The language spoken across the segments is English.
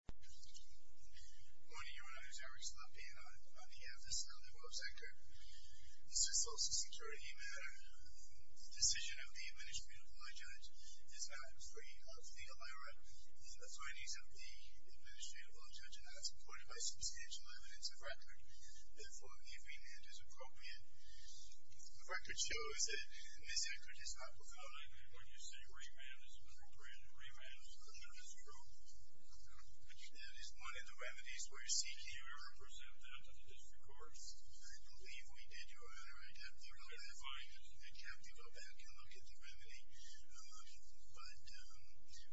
Good morning, your Honor. I'm Eric Slotkin. I'm the advocate on the Rose-Eckert case. This is a social security matter. The decision of the Administrative Law Judge is not free of the OIRA. The attorneys of the Administrative Law Judge have supported by substantial evidence of record that the following agreement is appropriate. The record shows that Ms. Eckert is not profiling. When you say remand is appropriate, remand is true. That is one of the remedies where C.K. would represent them to the district courts. I believe we did, your Honor, identify and have people back and look at the remedy. But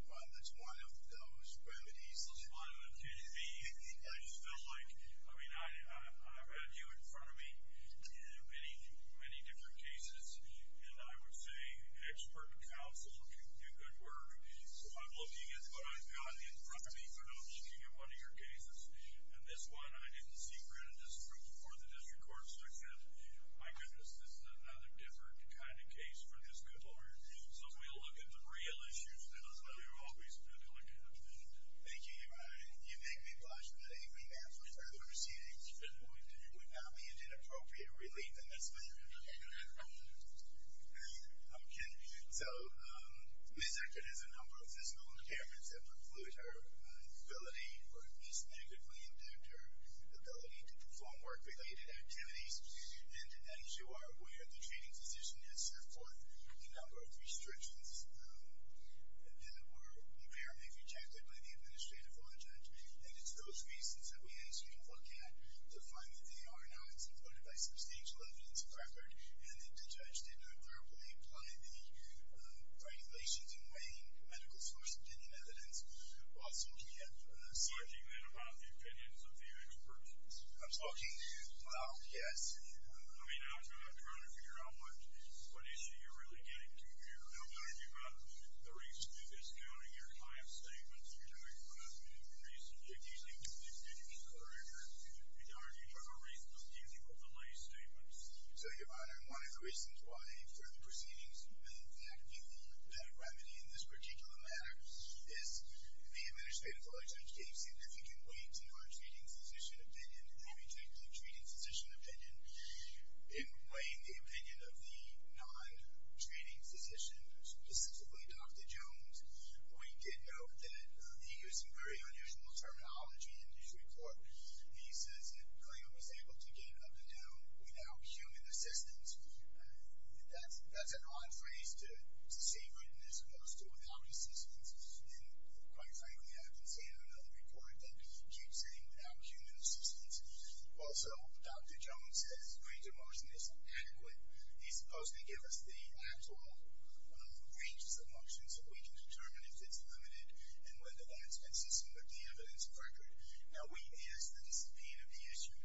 while that's one of those remedies. One of the things I just felt like, I mean, I've had you in front of me in many, many different cases. And I would say, expert counsel can do good work. So I'm looking at what I've gotten in front of me when I'm looking at one of your cases. And this one I didn't see credit as proof before the district courts. So I said, my goodness, this is another different kind of case for this couple. So if we look at the real issues, those are the ones we should be looking at. Thank you, your Honor. You make me pleasure that a remand for the first proceedings, at this point, would not be an inappropriate relief in this matter. Okay. So Ms. Eckert has a number of physical impairments that preclude her ability, or at least negatively impact her ability to perform work-related activities. And as you are aware, the training position has set forth a number of restrictions that were apparently rejected by the administrative law judge. And it's those reasons that we ask you to look at to find that they are not supported by substantial evidence of record, and that the judge did not clearly imply any regulations in weighing medical source opinion evidence. Also, we have- Are you talking then about the opinions of the experts? I'm talking to- Well, yes. I mean, I'm trying to figure out what issue you're really getting to here. And I'm talking about the reason that it's not in your client's statements. You're talking about the reason that you think the opinions are in your- So, Your Honor, one of the reasons why further proceedings would in fact be the remedy in this particular matter is the administrative law judge gave significant weight to non-training physician opinion and they rejected the training physician opinion. In weighing the opinion of the non-training physician, specifically Dr. Jones, we did note that he used some very unusual terminology in his report. He says that Clayton was able to get up and down without human assistance. That's an odd phrase to see written as opposed to without assistance. And quite frankly, I've been seeing it on other reports that he keeps saying without human assistance. Also, Dr. Jones says greater motion is inadequate. He's supposed to give us the actual ranges of motion so we can determine if it's limited and whether that's consistent with the evidence of record. Now, he is the discipline of the issue.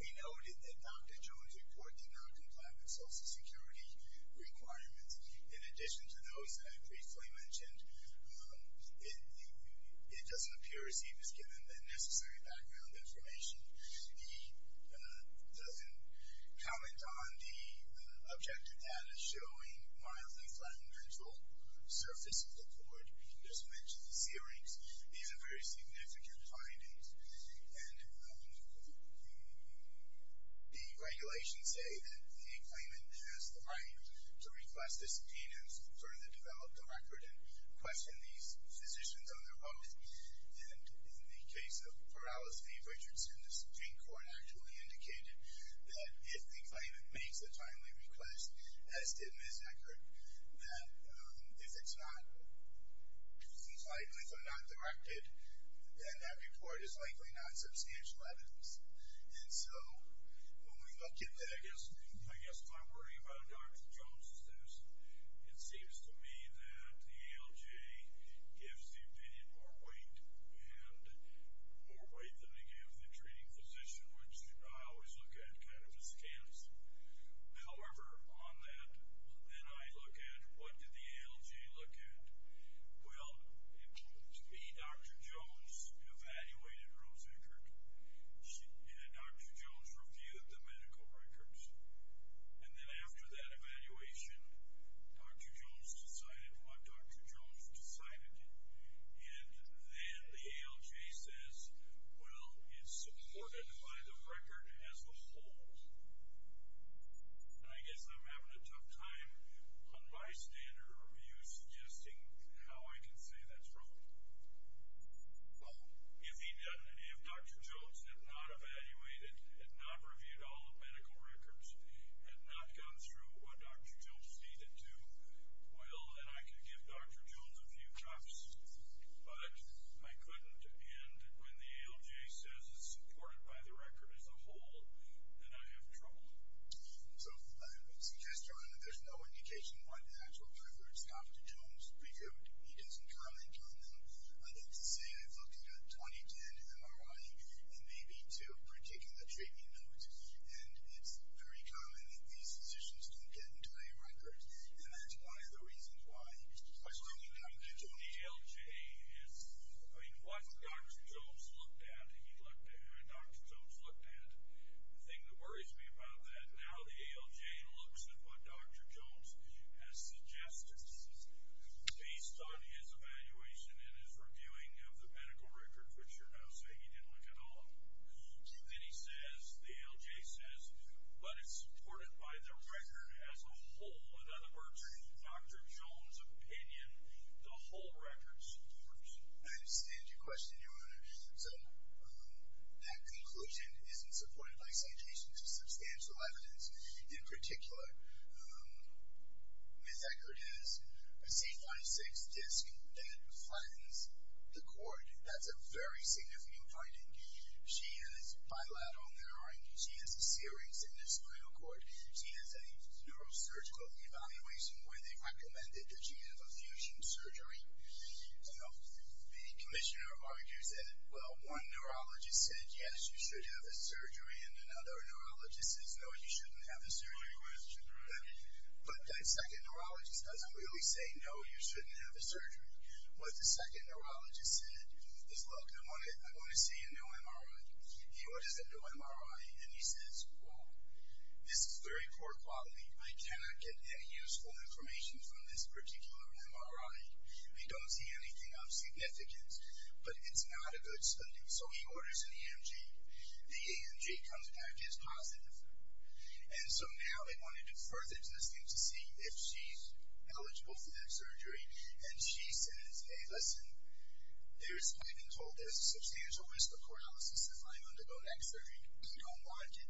We noted that Dr. Jones reported non-compliant social security requirements. In addition to those that I briefly mentioned, it doesn't appear as if he was given the necessary background information. He doesn't comment on the objective data showing mild and flat mental surfaces of the cord. I'll just mention the C-rings. These are very significant findings. And the regulations say that the claimant has the right to request disobedience, further develop the record, and question these physicians on their oath. And in the case of paralysis of Richardson, the Supreme Court actually indicated that if the claimant makes a timely request, as did Ms. Eckert, that if it's not directed, then that report is likely not substantial evidence. And so when we look at that, I guess my worry about Dr. Jones is this. It seems to me that the ALGA gives the opinion more weight than they give the treating physician, which I always look at kind of as camps. However, on that, then I look at what did the ALGA look at? Well, to me, Dr. Jones evaluated Rose Eckert. Dr. Jones reviewed the medical records. And then after that evaluation, Dr. Jones decided what Dr. Jones decided. And then the ALGA says, Well, it's supported by the record as a whole. And I guess I'm having a tough time on bystander review suggesting how I can say that's wrong. Well, if he doesn't, if Dr. Jones had not evaluated, had not reviewed all the medical records, had not gone through what Dr. Jones needed to, well, then I could give Dr. Jones a few cups. But I couldn't. And when the ALGA says it's supported by the record as a whole, then I have trouble. So I would suggest, John, that there's no indication why the actual records Dr. Jones reviewed. He doesn't currently count them. I'd have to say I've looked at a 2010 MRI and maybe two particular treatment notes. And it's very common that these physicians don't get an entire record. And that's one of the reasons why. The ALGA is, I mean, what Dr. Jones looked at, he looked at, Dr. Jones looked at. The thing that worries me about that, now the ALGA looks at what Dr. Jones has suggested. This is based on his evaluation and his reviewing of the medical records, which are now saying he didn't look at all. Then he says, the ALGA says, But it's supported by the record as a whole. So without aberrating Dr. Jones' opinion, the whole record should be reviewed. I understand your question, Your Honor. So that conclusion isn't supported by citations of substantial evidence. In particular, Ms. Eckert has a C56 disc that flattens the cord. That's a very significant finding. She has bilateral narrowing. She has a serious endoscleral cord. She has a neurosurgical evaluation where they recommended that she have a fusion surgery. The commissioner argues that, well, one neurologist said, Yes, you should have a surgery, and another neurologist says, No, you shouldn't have a surgery. But that second neurologist doesn't really say, No, you shouldn't have a surgery. What the second neurologist said is, Look, I'm going to say a new MRI. He goes, What is a new MRI? And he says, Well, this is very poor quality. I cannot get any useful information from this particular MRI. I don't see anything of significance. But it's not a good study. So he orders an EMG. The EMG comes back as positive. And so now they want to defer the testing to see if she's eligible for that surgery. And she says, Hey, listen, there's a substantial risk of paralysis if I undergo next surgery. We don't want it.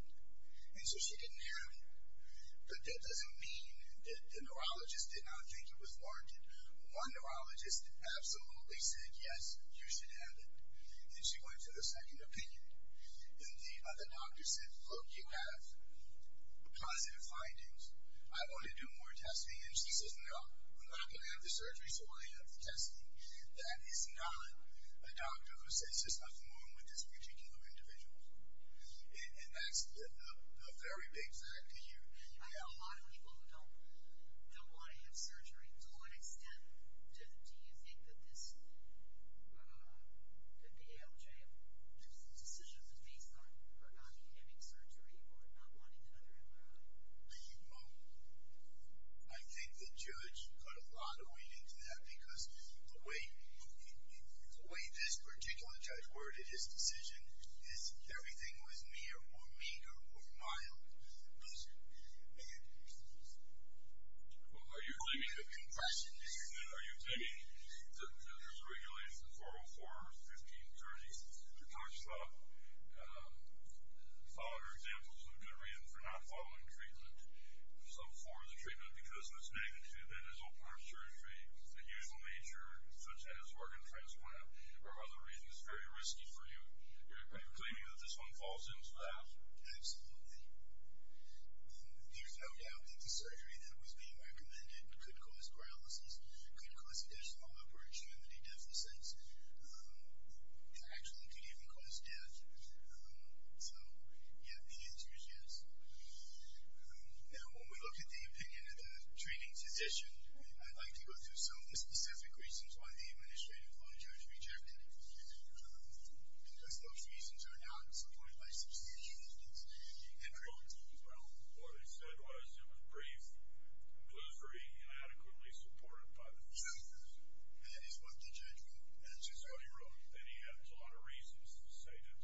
And so she didn't have it. But that doesn't mean that the neurologist did not think it was warranted. One neurologist absolutely said, Yes, you should have it. And she went to the second opinion. And the other doctor said, Look, you have positive findings. I want to do more testing. And she says, No, I'm not going to have the surgery so I have the testing. That is not a doctor who says, There's nothing wrong with this particular individual. And that's the very big fact to you. I know a lot of people who don't want to have surgery. To what extent do you think that this, that the ALJ, which is the decision that's based on her not getting surgery or not wanting another MRI? I think the judge put a lot of weight into that because the way this particular judge worded his decision is everything was mere or meager or mild. And... Well, are you claiming... The impression is... Are you claiming that there's a regulation, 404 or 1530, that talks about following examples and a good reason for not following treatment, some form of treatment, because of its magnitude that is open-arm surgery, the usual nature, such as organ transplant, or other reasons very risky for you? Are you claiming that this one falls into that? Absolutely. You found out that the surgery that was being recommended could cause paralysis, could cause additional opportunity deficits, that actually could even cause death. So, yeah, the enthusiasm. Now, when we look at the opinion of the treating physician, I'd like to go through some specific reasons why the administrative law judge rejected it, because those reasons are not supported by substantial evidence. And... Well, what he said was it was brief, blissfully inadequately supported by the fact that... That is what the judge wrote. That is what he wrote. And he had a lot of reasons to say that,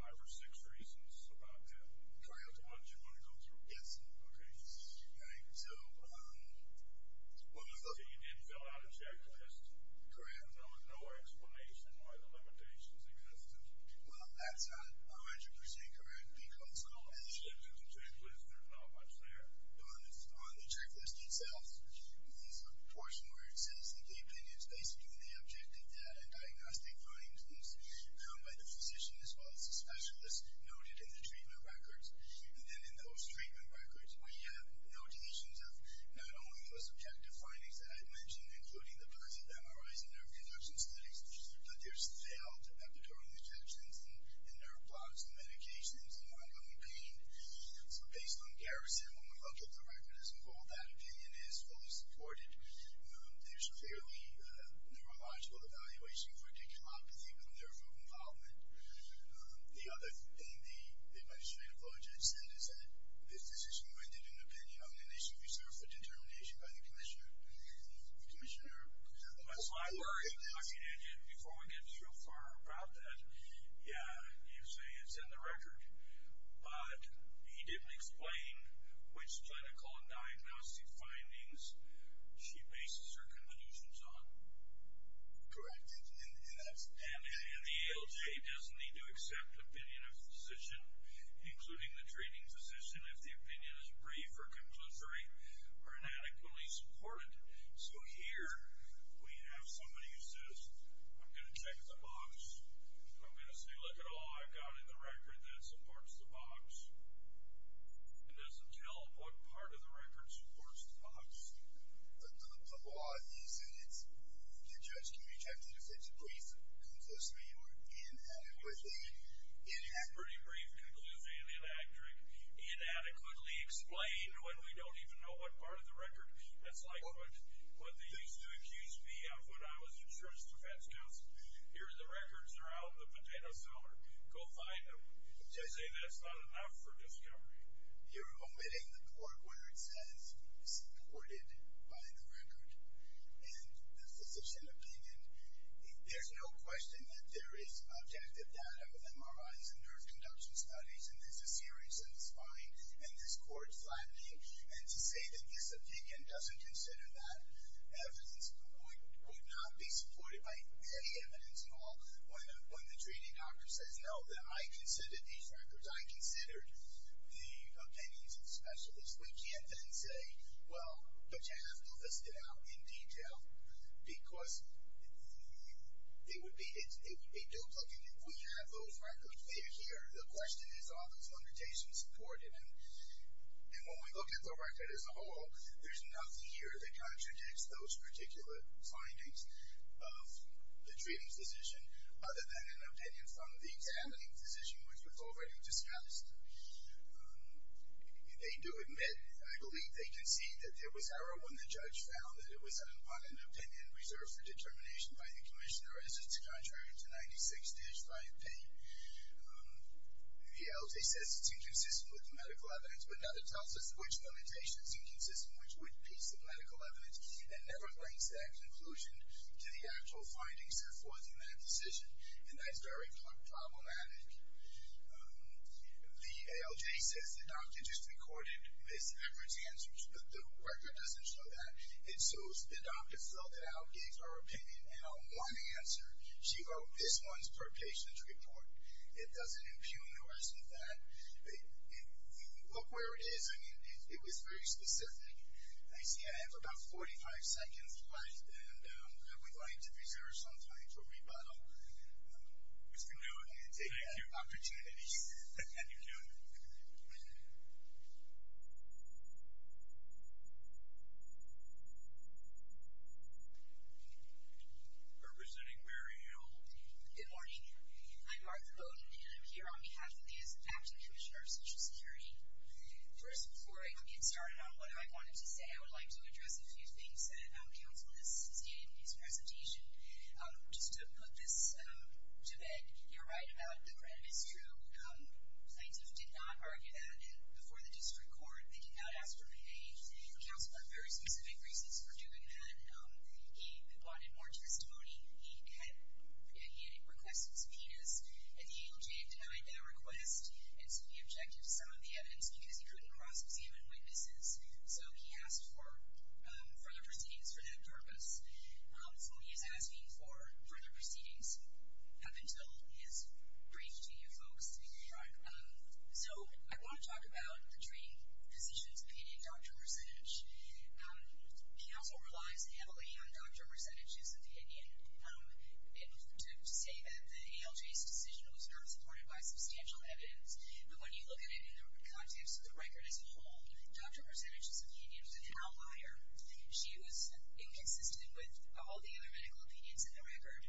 five or six reasons about that. Do you want to go through them? Yes, sir. OK. So, you did fill out a checklist. Correct. There was no explanation why the limitations existed. Well, that's 100% correct, because... Well, in the checklist, there's not much there. On the checklist itself, there's a portion where it says that the opinion is basically the objective data diagnostic findings found by the physician as well as the specialist noted in the treatment records. And then in those treatment records, we have notations of not only the subjective findings that I mentioned, including the births of MRIs and nerve conduction studies, but there's failed epidural infections in nerve blocks and medications and ongoing pain. So, based on Garrison, when we look at the record as a whole, that opinion is fully supported. There's a fairly neurological evaluation for decompany from nerve room involvement. The other thing the administrative logic said is that if the physician rendered an opinion, then they should be served for determination by the commissioner. The commissioner... Before we get too far about that, yeah, you say it's in the record, but he didn't explain which clinical diagnostic findings she bases her conclusions on. Correct. And the ALJ doesn't need to accept opinion of physician, including the treating physician, if the opinion is brief or conclusory or inadequately supported. So here we have somebody who says, I'm going to check the box. I'm going to say, look at all I've got in the record that supports the box. It doesn't tell what part of the record supports the box. The law in these units, the judge can be tempted to say it's brief, conclusory, or inadequately... It's pretty brief, conclusive, and electric. Inadequately explained when we don't even know what part of the record. That's like what they used to accuse me of when I was insurance defense counsel. Here, the records are out in the potato cellar. Go find them. I say that's not enough for discovery. You're omitting the part where it says supported by the record and the physician opinion. There's no question that there is objective data with MRIs and nerve conduction studies, and there's a series in the spine, and this court's flattening. And to say that this opinion doesn't consider that evidence would not be supported by any evidence at all when the treating doctor says, no, I considered these records. I considered the opinions of specialists because we can't then say, well, but you have to list it out in detail because it would be dope looking if we had those records. Here, the question is are those limitations supported? And when we look at the record as a whole, there's nothing here that contradicts those particular findings of the treating physician other than an opinion from the examining physician, which was already discussed. They do admit, I believe they concede, that there was error when the judge found that it was on an opinion reserved for determination by the commissioner, as it's contrary to 96-5P. The LT says it's inconsistent with the medical evidence, but neither tells us which limitation's inconsistent, which would piece the medical evidence, and never brings that conclusion to the actual findings supporting that decision, and that's very problematic. The ALJ says the doctor just recorded Ms. Everett's answers, but the record doesn't show that. It shows the doctor filled out, gave her opinion, and on one answer, she wrote this one's per patient report. It doesn't impugn or assume that. Look where it is. I mean, it was very specific. I see I have about 45 seconds left, and I would like to reserve some time for rebuttal. Mr. Lewin, take your opportunity. Thank you. Representing Mary Hill. Good morning. I'm Martha Bowden, and I'm here on behalf of the Acting Commissioner of Social Security. First, before I get started on what I wanted to say, I would like to address a few things that counsel has stated in his presentation. Just to put this to bed, you're right about the credit is due. Plaintiffs did not argue that before the district court. They did not ask for a counsel for very specific reasons for doing that. He wanted more testimony. He had requested subpoenas, and the ALJ denied that request, and so he objected to some of the evidence because he couldn't cross examine witnesses, so he asked for further proceedings for that purpose. So he is asking for further proceedings up until his brief to you folks. Right. So I want to talk about the training position's opinion, doctor percentage. Counsel relies heavily on doctor percentages opinion to say that the ALJ's decision was not supported by substantial evidence. But when you look at it in the context of the record as a whole, doctor percentages opinion, she was inconsistent with all the other medical opinions in the record.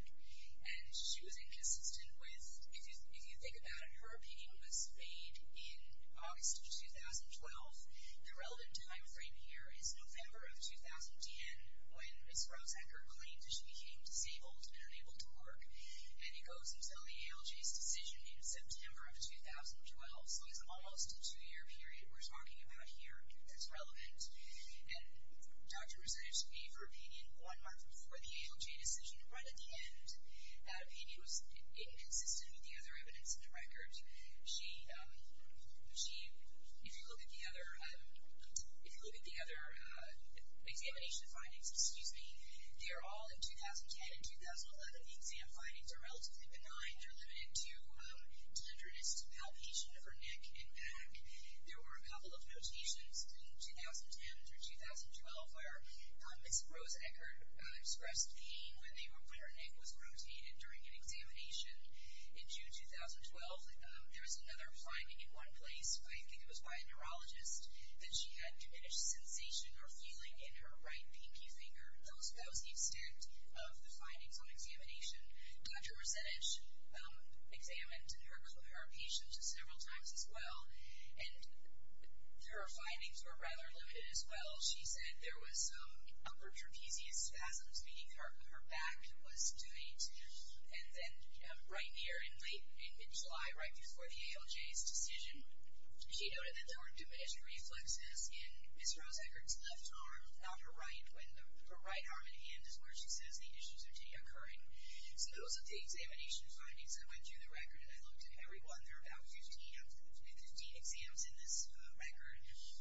And she was inconsistent with, if you think about it, her opinion was made in August of 2012. The relevant timeframe here is November of 2010 when Ms. Rosehecker claimed that she became disabled and unable to work, and it goes until the ALJ's decision in September of 2012. So it's almost a two-year period we're talking about here that's relevant. And doctor percentage gave her opinion one month before the ALJ decision. Right at the end, that opinion was inconsistent with the other evidence in the record. She, if you look at the other examination findings, excuse me, they're all in 2010 and 2011. The exam findings are relatively benign. They're limited to tenderness and palpation of her neck and back. There were a couple of notations in 2010 through 2012 where Ms. Rosehecker expressed pain when her neck was rotated during an examination. In June 2012, there was another finding in one place, I think it was by a neurologist, that she had diminished sensation or feeling in her right pinky finger. Those are the extent of the findings on examination. Doctor percentage examined her patients several times as well, and her findings were rather limited as well. She said there was some upper trapezius spasms, meaning her back was doing too. And then right here in late, in mid-July, right before the ALJ's decision, she noted that there were diminished reflexes in Ms. Rosehecker's left arm, not her right, when her right arm and hand is where she says the issues are occurring. So those are the examination findings. I went through the record and I looked at every one. There are about 15 exams in this record,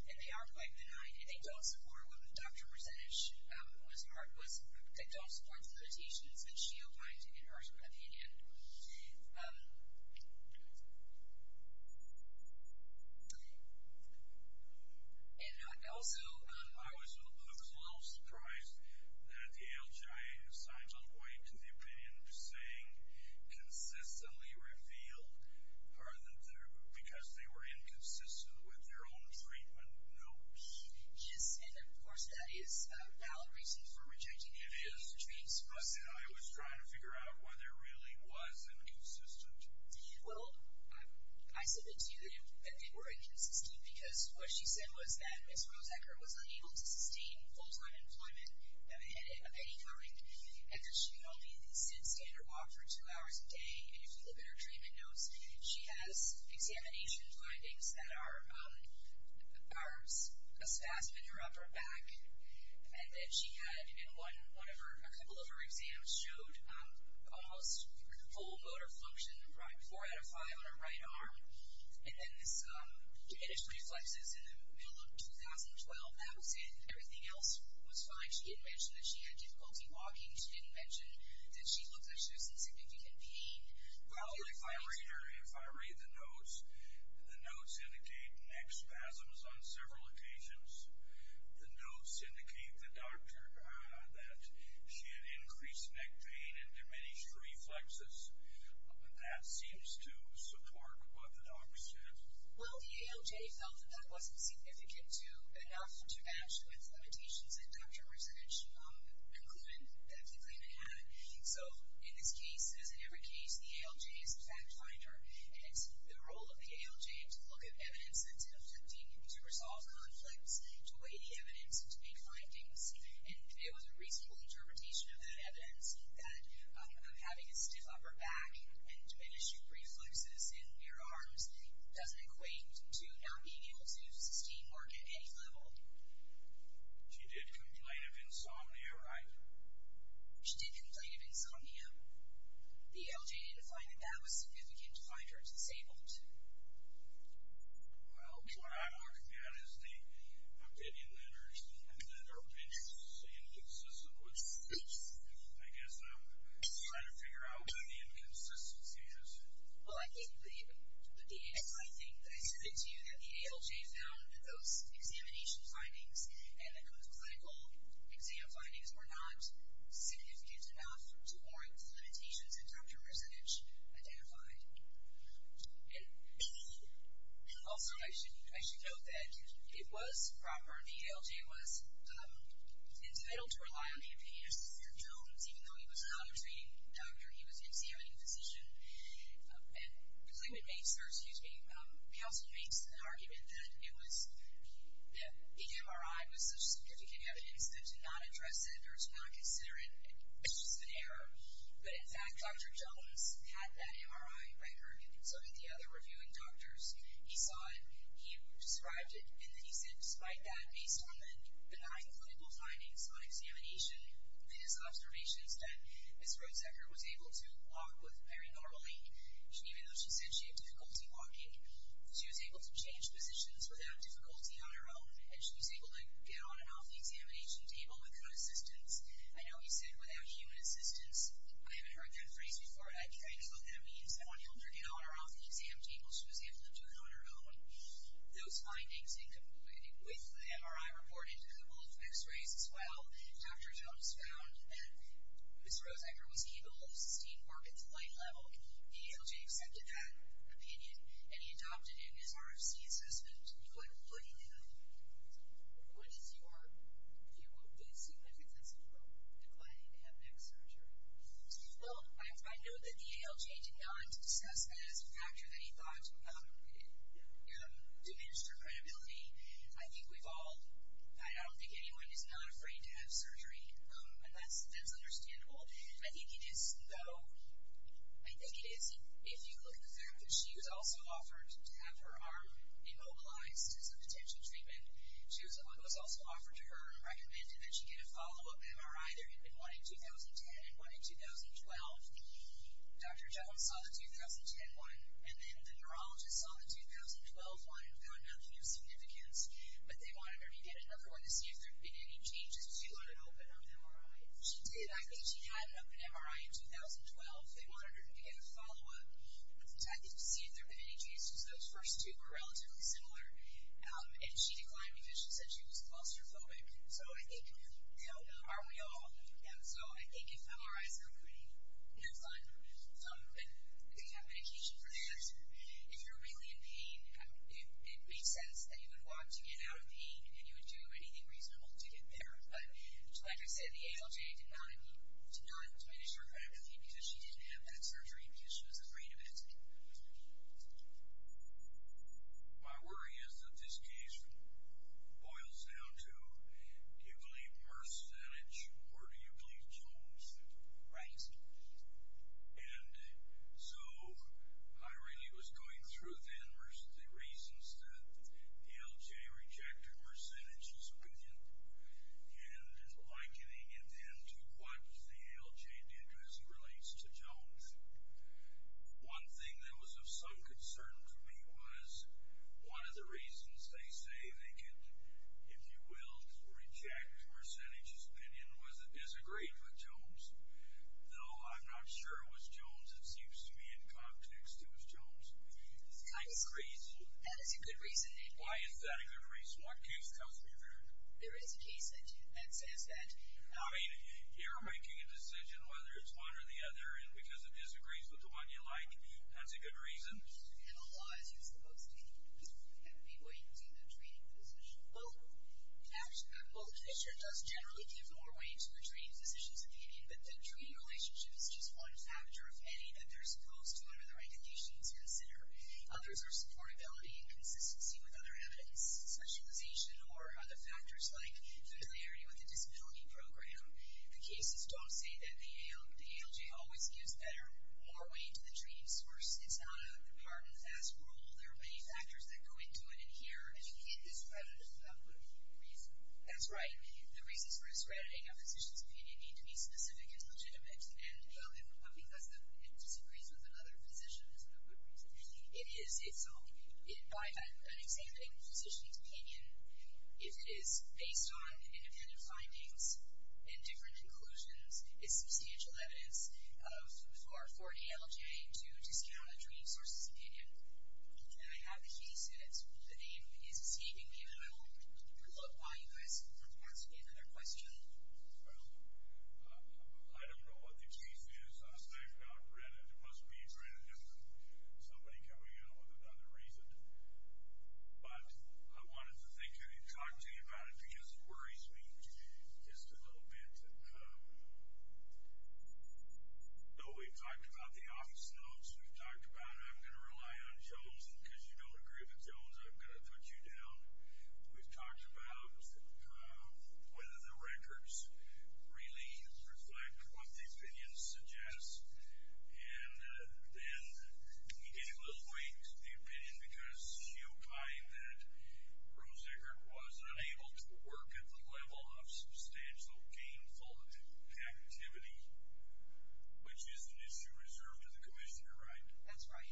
and they are quite benign. I think all support what the doctor percentage was marked was that it all supports the limitations that she outlined in her opinion. And also... I was a little surprised that the ALJ signed on white to the opinion saying that they consistently revealed because they were inconsistent with their own treatment notes. Yes, and of course that is a valid reason for rejecting it. It is, but I was trying to figure out whether it really was inconsistent. Well, I submit to you that they were inconsistent because what she said was that Ms. Rosehecker was unable to sustain full-time employment of any kind after she could only stand or walk for two hours a day. And if you look at her treatment notes, she has examination findings that are a spasm in her upper back. And then she had in one of her... A couple of her exams showed almost full motor function, four out of five on her right arm. And then this diminished reflexes in the middle of 2012. That was it. Everything else was fine. She didn't mention that she had difficulty walking. She didn't mention that she looked like she was in significant pain. Well, if I read the notes, the notes indicate neck spasms on several occasions. The notes indicate the doctor that she had increased neck pain and diminished reflexes. That seems to support what the doctor said. Well, the ALJ felt that that wasn't significant enough to match with limitations that Dr. Resnick concluded that the claimant had. So in this case, as in every case, the ALJ is a fact finder. And it's the role of the ALJ to look at evidence that's conflicting, to resolve conflicts, to weigh the evidence, and to make findings. And it was a reasonable interpretation of that evidence that having a stiff upper back and diminished reflexes in your arms doesn't equate to not being able to sustain work at any level. She did complain of insomnia, right? She did complain of insomnia. The ALJ defined that that was significant to find her disabled. Well, what I'm working on is the opinion that our bench is inconsistent with speech. I guess I'm trying to figure out what the inconsistency is. Well, I think that I said it to you, that the ALJ found that those examination findings and those clinical exam findings were not significant enough to warrant the limitations that Dr. Resnick identified. And also, I should note that it was proper, the ALJ was entitled to rely on the opinion of Dr. Jones, even though he was a commentary doctor. He was an examining physician. And the claimant makes, or excuse me, counsel makes an argument that the MRI was such significant evidence that to not address it or to not consider it is just an error. But in fact, Dr. Jones had that MRI record, and so did the other reviewing doctors. He saw it, he described it, and then he said, despite that, based on the nine clinical findings on examination, his observations that Ms. Roedzecker was able to walk very normally, even though she said she had difficulty walking, she was able to change positions without difficulty on her own, and she was able to get on and off the examination table with good assistance. I know he said, without human assistance. I haven't heard that phrase before. I know what that means. I want to help her get on or off the exam table. She was able to do it on her own. Those findings, with the MRI report and the couple of x-rays as well, Dr. Jones found that Ms. Roedzecker was able to see more at the light level, and the ALJ accepted that opinion, and he adopted it in his RFC assessment. What do you think of that? What is your view of the significance of declining to have neck surgery? Well, I know that the ALJ did not discuss that as a factor that he thought would not diminish her credibility. I don't think anyone is not afraid to have surgery, and that's understandable. I think it is, though. I think it is. If you look at the fact that she was also offered to have her arm immobilized as a potential treatment, it was also offered to her and recommended that she get a follow-up MRI. There had been one in 2010 and one in 2012. Dr. Jones saw the 2010 one, and then the neurologist saw the 2012 one, and found nothing of significance. But they wanted her to get another one to see if there had been any changes. So you let her open up an MRI? She did. I think she had an open MRI in 2012. They wanted her to get a follow-up. I think to see if there had been any changes. Those first two were relatively similar. And she declined because she said she was claustrophobic. So I think, you know, are we all? So I think if MRIs are pretty fun and they have medication for that, if you're really in pain, it makes sense that you would want to get out of pain and you would do anything reasonable to get there. But like I said, the ALJ did not diminish her credibility because she didn't have that surgery because she was afraid of it. My worry is that this case boils down to, do you believe Mercedes or do you believe Jones? Right. And so I really was going through then the reasons that ALJ rejected Mercedes' opinion and likening it then to what the ALJ did as it relates to Jones. One thing that was of some concern to me was one of the reasons they say they could, if you will, reject Mercedes' opinion was it disagreed with Jones. Though I'm not sure it was Jones. It seems to me in context it was Jones. It's kind of crazy. That is a good reason. Why is that a good reason? What case comes to your mind? There is a case that says that. I mean, you're making a decision whether it's one or the other, and because it disagrees with the one you like, that's a good reason? In a law, as you're supposed to be, you have to be waiting to the treating physician. Well, the physician does generally give more weight to the treating physician's opinion, but the treating relationship is just one factor of any that they're supposed to under the recommendations considered. Others are supportability and consistency with other evidence, specialization or other factors like familiarity with the disability program. The cases don't say that. The ALJ always gives more weight to the treating person. It's not a hard and fast rule. There are many factors that go into it in here. And you hit this predictive uprooting reason. That's right. The reasons for discrediting a physician's opinion need to be specific and legitimate. And, well, because it disagrees with another physician, is a good reason. It is its own. By that, I'm saying that a physician's opinion, if it is based on independent findings and different conclusions, is substantial evidence for ALJ to discount a treating source's opinion. Okay, I have the case. The name is T. We're going to look while you guys report. Do you want to ask me another question? I don't know what the case is. I've not read it. It must be a different, somebody coming in with another reason. But I wanted to talk to you about it because it worries me just a little bit. We've talked about the office notes. We've talked about it. We've talked about Jon Jones. And because you don't agree with Jones, I'm going to put you down. We've talked about whether the records really reflect what the opinion suggests. And then he did lose weight, the opinion, because he opined that Roesiger was unable to work at the level of substantial gainful activity, which is an issue reserved to the commissioner, right? That's right.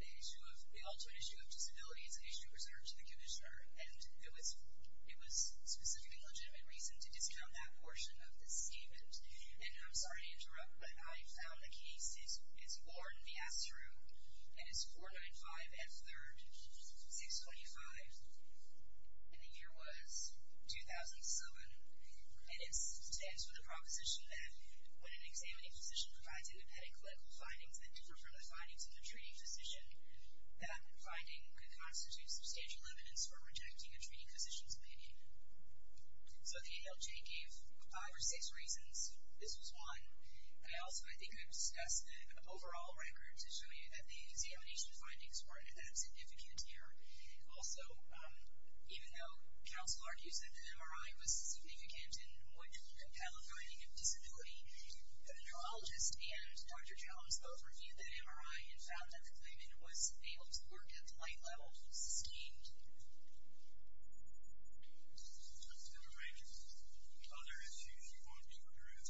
The issue of, the ultimate issue of disability is an issue reserved to the commissioner. And it was specifically legitimate reason to discount that portion of this statement. And I'm sorry to interrupt, but I found the case. It's born in the Asteroom, and it's 495 F. 3rd, 625, and the year was 2007. And it stands for the proposition that when an examining physician provides independent medical findings that differ from the findings of a treating physician, that finding could constitute substantial evidence for rejecting a treating physician's opinion. So the ALJ gave five or six reasons. This was one. I also think I've discussed the overall record to show you that the examination findings weren't at that significant here. Also, even though counsel argues that the MRI was significant in what could compel a finding of disability, the neurologist and Dr. Jones both reviewed the MRI and found that the claimant was able to work at the light level sustained. Other issues you want to address?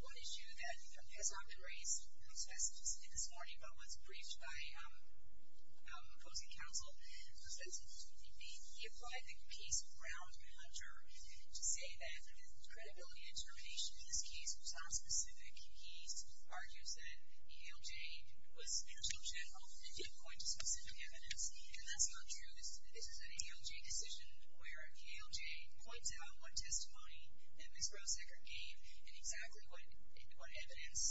One issue that has not been raised specifically this morning, but was briefed by folks at counsel, was that in 2008, he applied the case of Brown and Hunter to say that the credibility and determination in this case was not specific. He argues that ALJ was not so general. It did quite a bit of work. And that's not true. This is an ALJ decision where ALJ points out what testimony that Ms. Rose-Eckert gave and exactly what evidence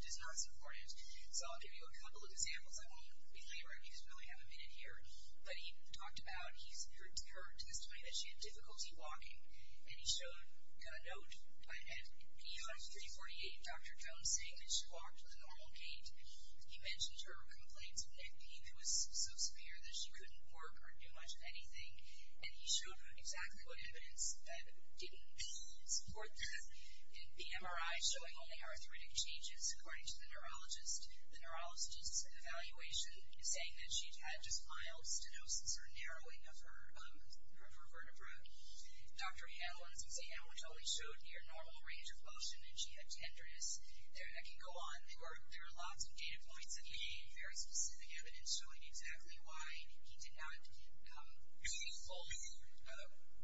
does not support it. So I'll give you a couple of examples. I won't be late, right, because we only have a minute here. But he talked about her testimony that she had difficulty walking. And he showed a note at ER 348, Dr. Jones, saying that she walked with a normal gait. He mentioned her complaints with neck pain, who was so severe that she couldn't work or do much of anything. And he showed her exactly what evidence didn't support that. The MRI showing only arthritic changes, according to the neurologist. The neurologist's evaluation is saying that she had just mild stenosis or narrowing of her vertebra. Dr. Hamlin's exam, which only showed near normal range of motion, and she had tenderness. I can go on. There are lots of data points that he gave, very specific evidence, showing exactly why he did not fully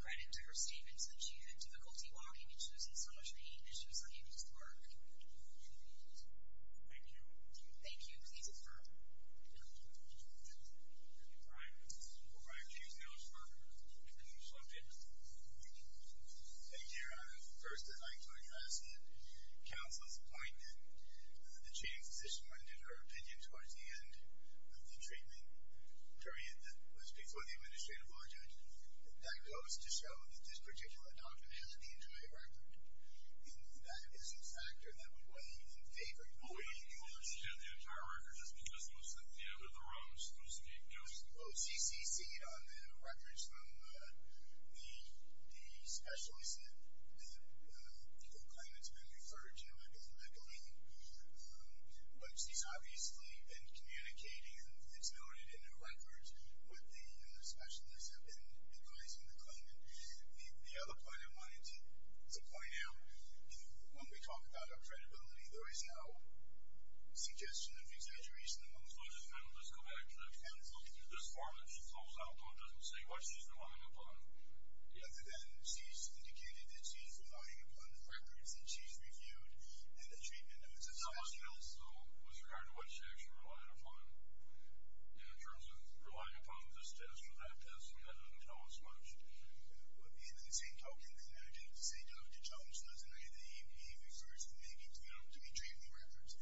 credit to her statements that she had difficulty walking and she was in so much pain that she was unable to work. Thank you. Please, sir. All right. Thank you so much, Mark. Thank you so much. Thank you. I just want to make a point here. First, I'd like to address the counsel's point that the treating physician rendered her opinion towards the end of the treatment period that was before the administrative audit. That goes to show that this particular doctor has the injury record. And that is a factor that would weigh in favor of the OECD. The entire record is because it was at the end of the run. OCCC on the records from the specialist that people claim it's been referred to is meddling. But she's obviously been communicating, and it's noted in her records, what the specialists have been advising the claimant. The other point I wanted to point out, when we talk about our credibility, there is no suggestion of exaggeration. So, as a matter of fact, I was looking through this form that she pulls out, but it doesn't say what she's relying upon. Yeah, but then she's indicated that she's relying upon the records that she's reviewed and the treatment. And this is also with regard to what she actually relied upon. In terms of relying upon the status of that test, we don't know as much. But at the end of the same token, I didn't say Dr. Jones doesn't agree that he refers to me to be treating records.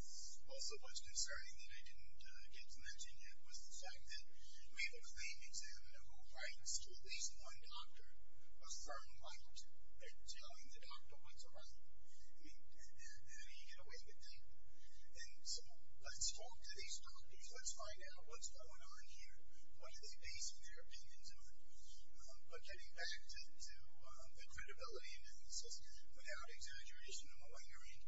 Also, what's concerning that I didn't get to mention yet was the fact that we have a claimant examiner who writes to at least one doctor, affirmed by telling the doctor what's right. I mean, how do you get away with that? And so let's talk to these doctors. Let's find out what's going on here. What are they basing their opinions on? But getting back to the credibility analysis, without exaggeration or malingering,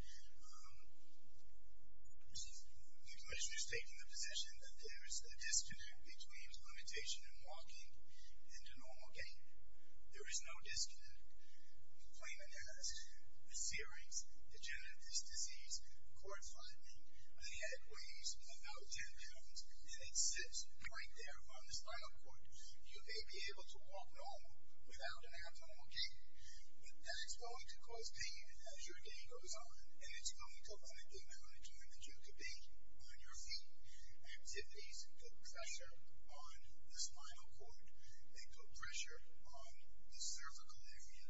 the commissioner is taking the position that there is a disconnect between limitation in walking and a normal gain. There is no disconnect. The claimant has the searings, degenerative disease, cord flattening, a head weighs about 10 pounds, and it sits right there on the spinal cord. You may be able to walk normal without an abnormal gain, but that's going to cause pain as your gain goes on, and it's going to affect the amount of joint that you could be on your feet. Activities put pressure on the spinal cord. They put pressure on the cervical area.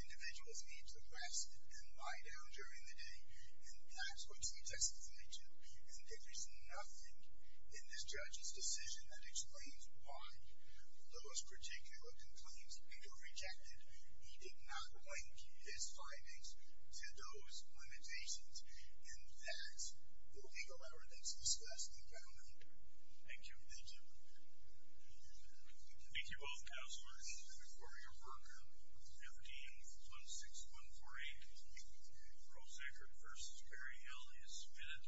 Individuals need to rest and lie down during the day, and that's what she testified to, and there is nothing in this judge's decision that explains why those particular complaints were rejected. He did not link his findings to those limitations in that the legal evidence discussed in the government. Thank you. Thank you. Thank you both, counselors, for your work. 15-16148. Prosecutor versus Perry Hill is admitted.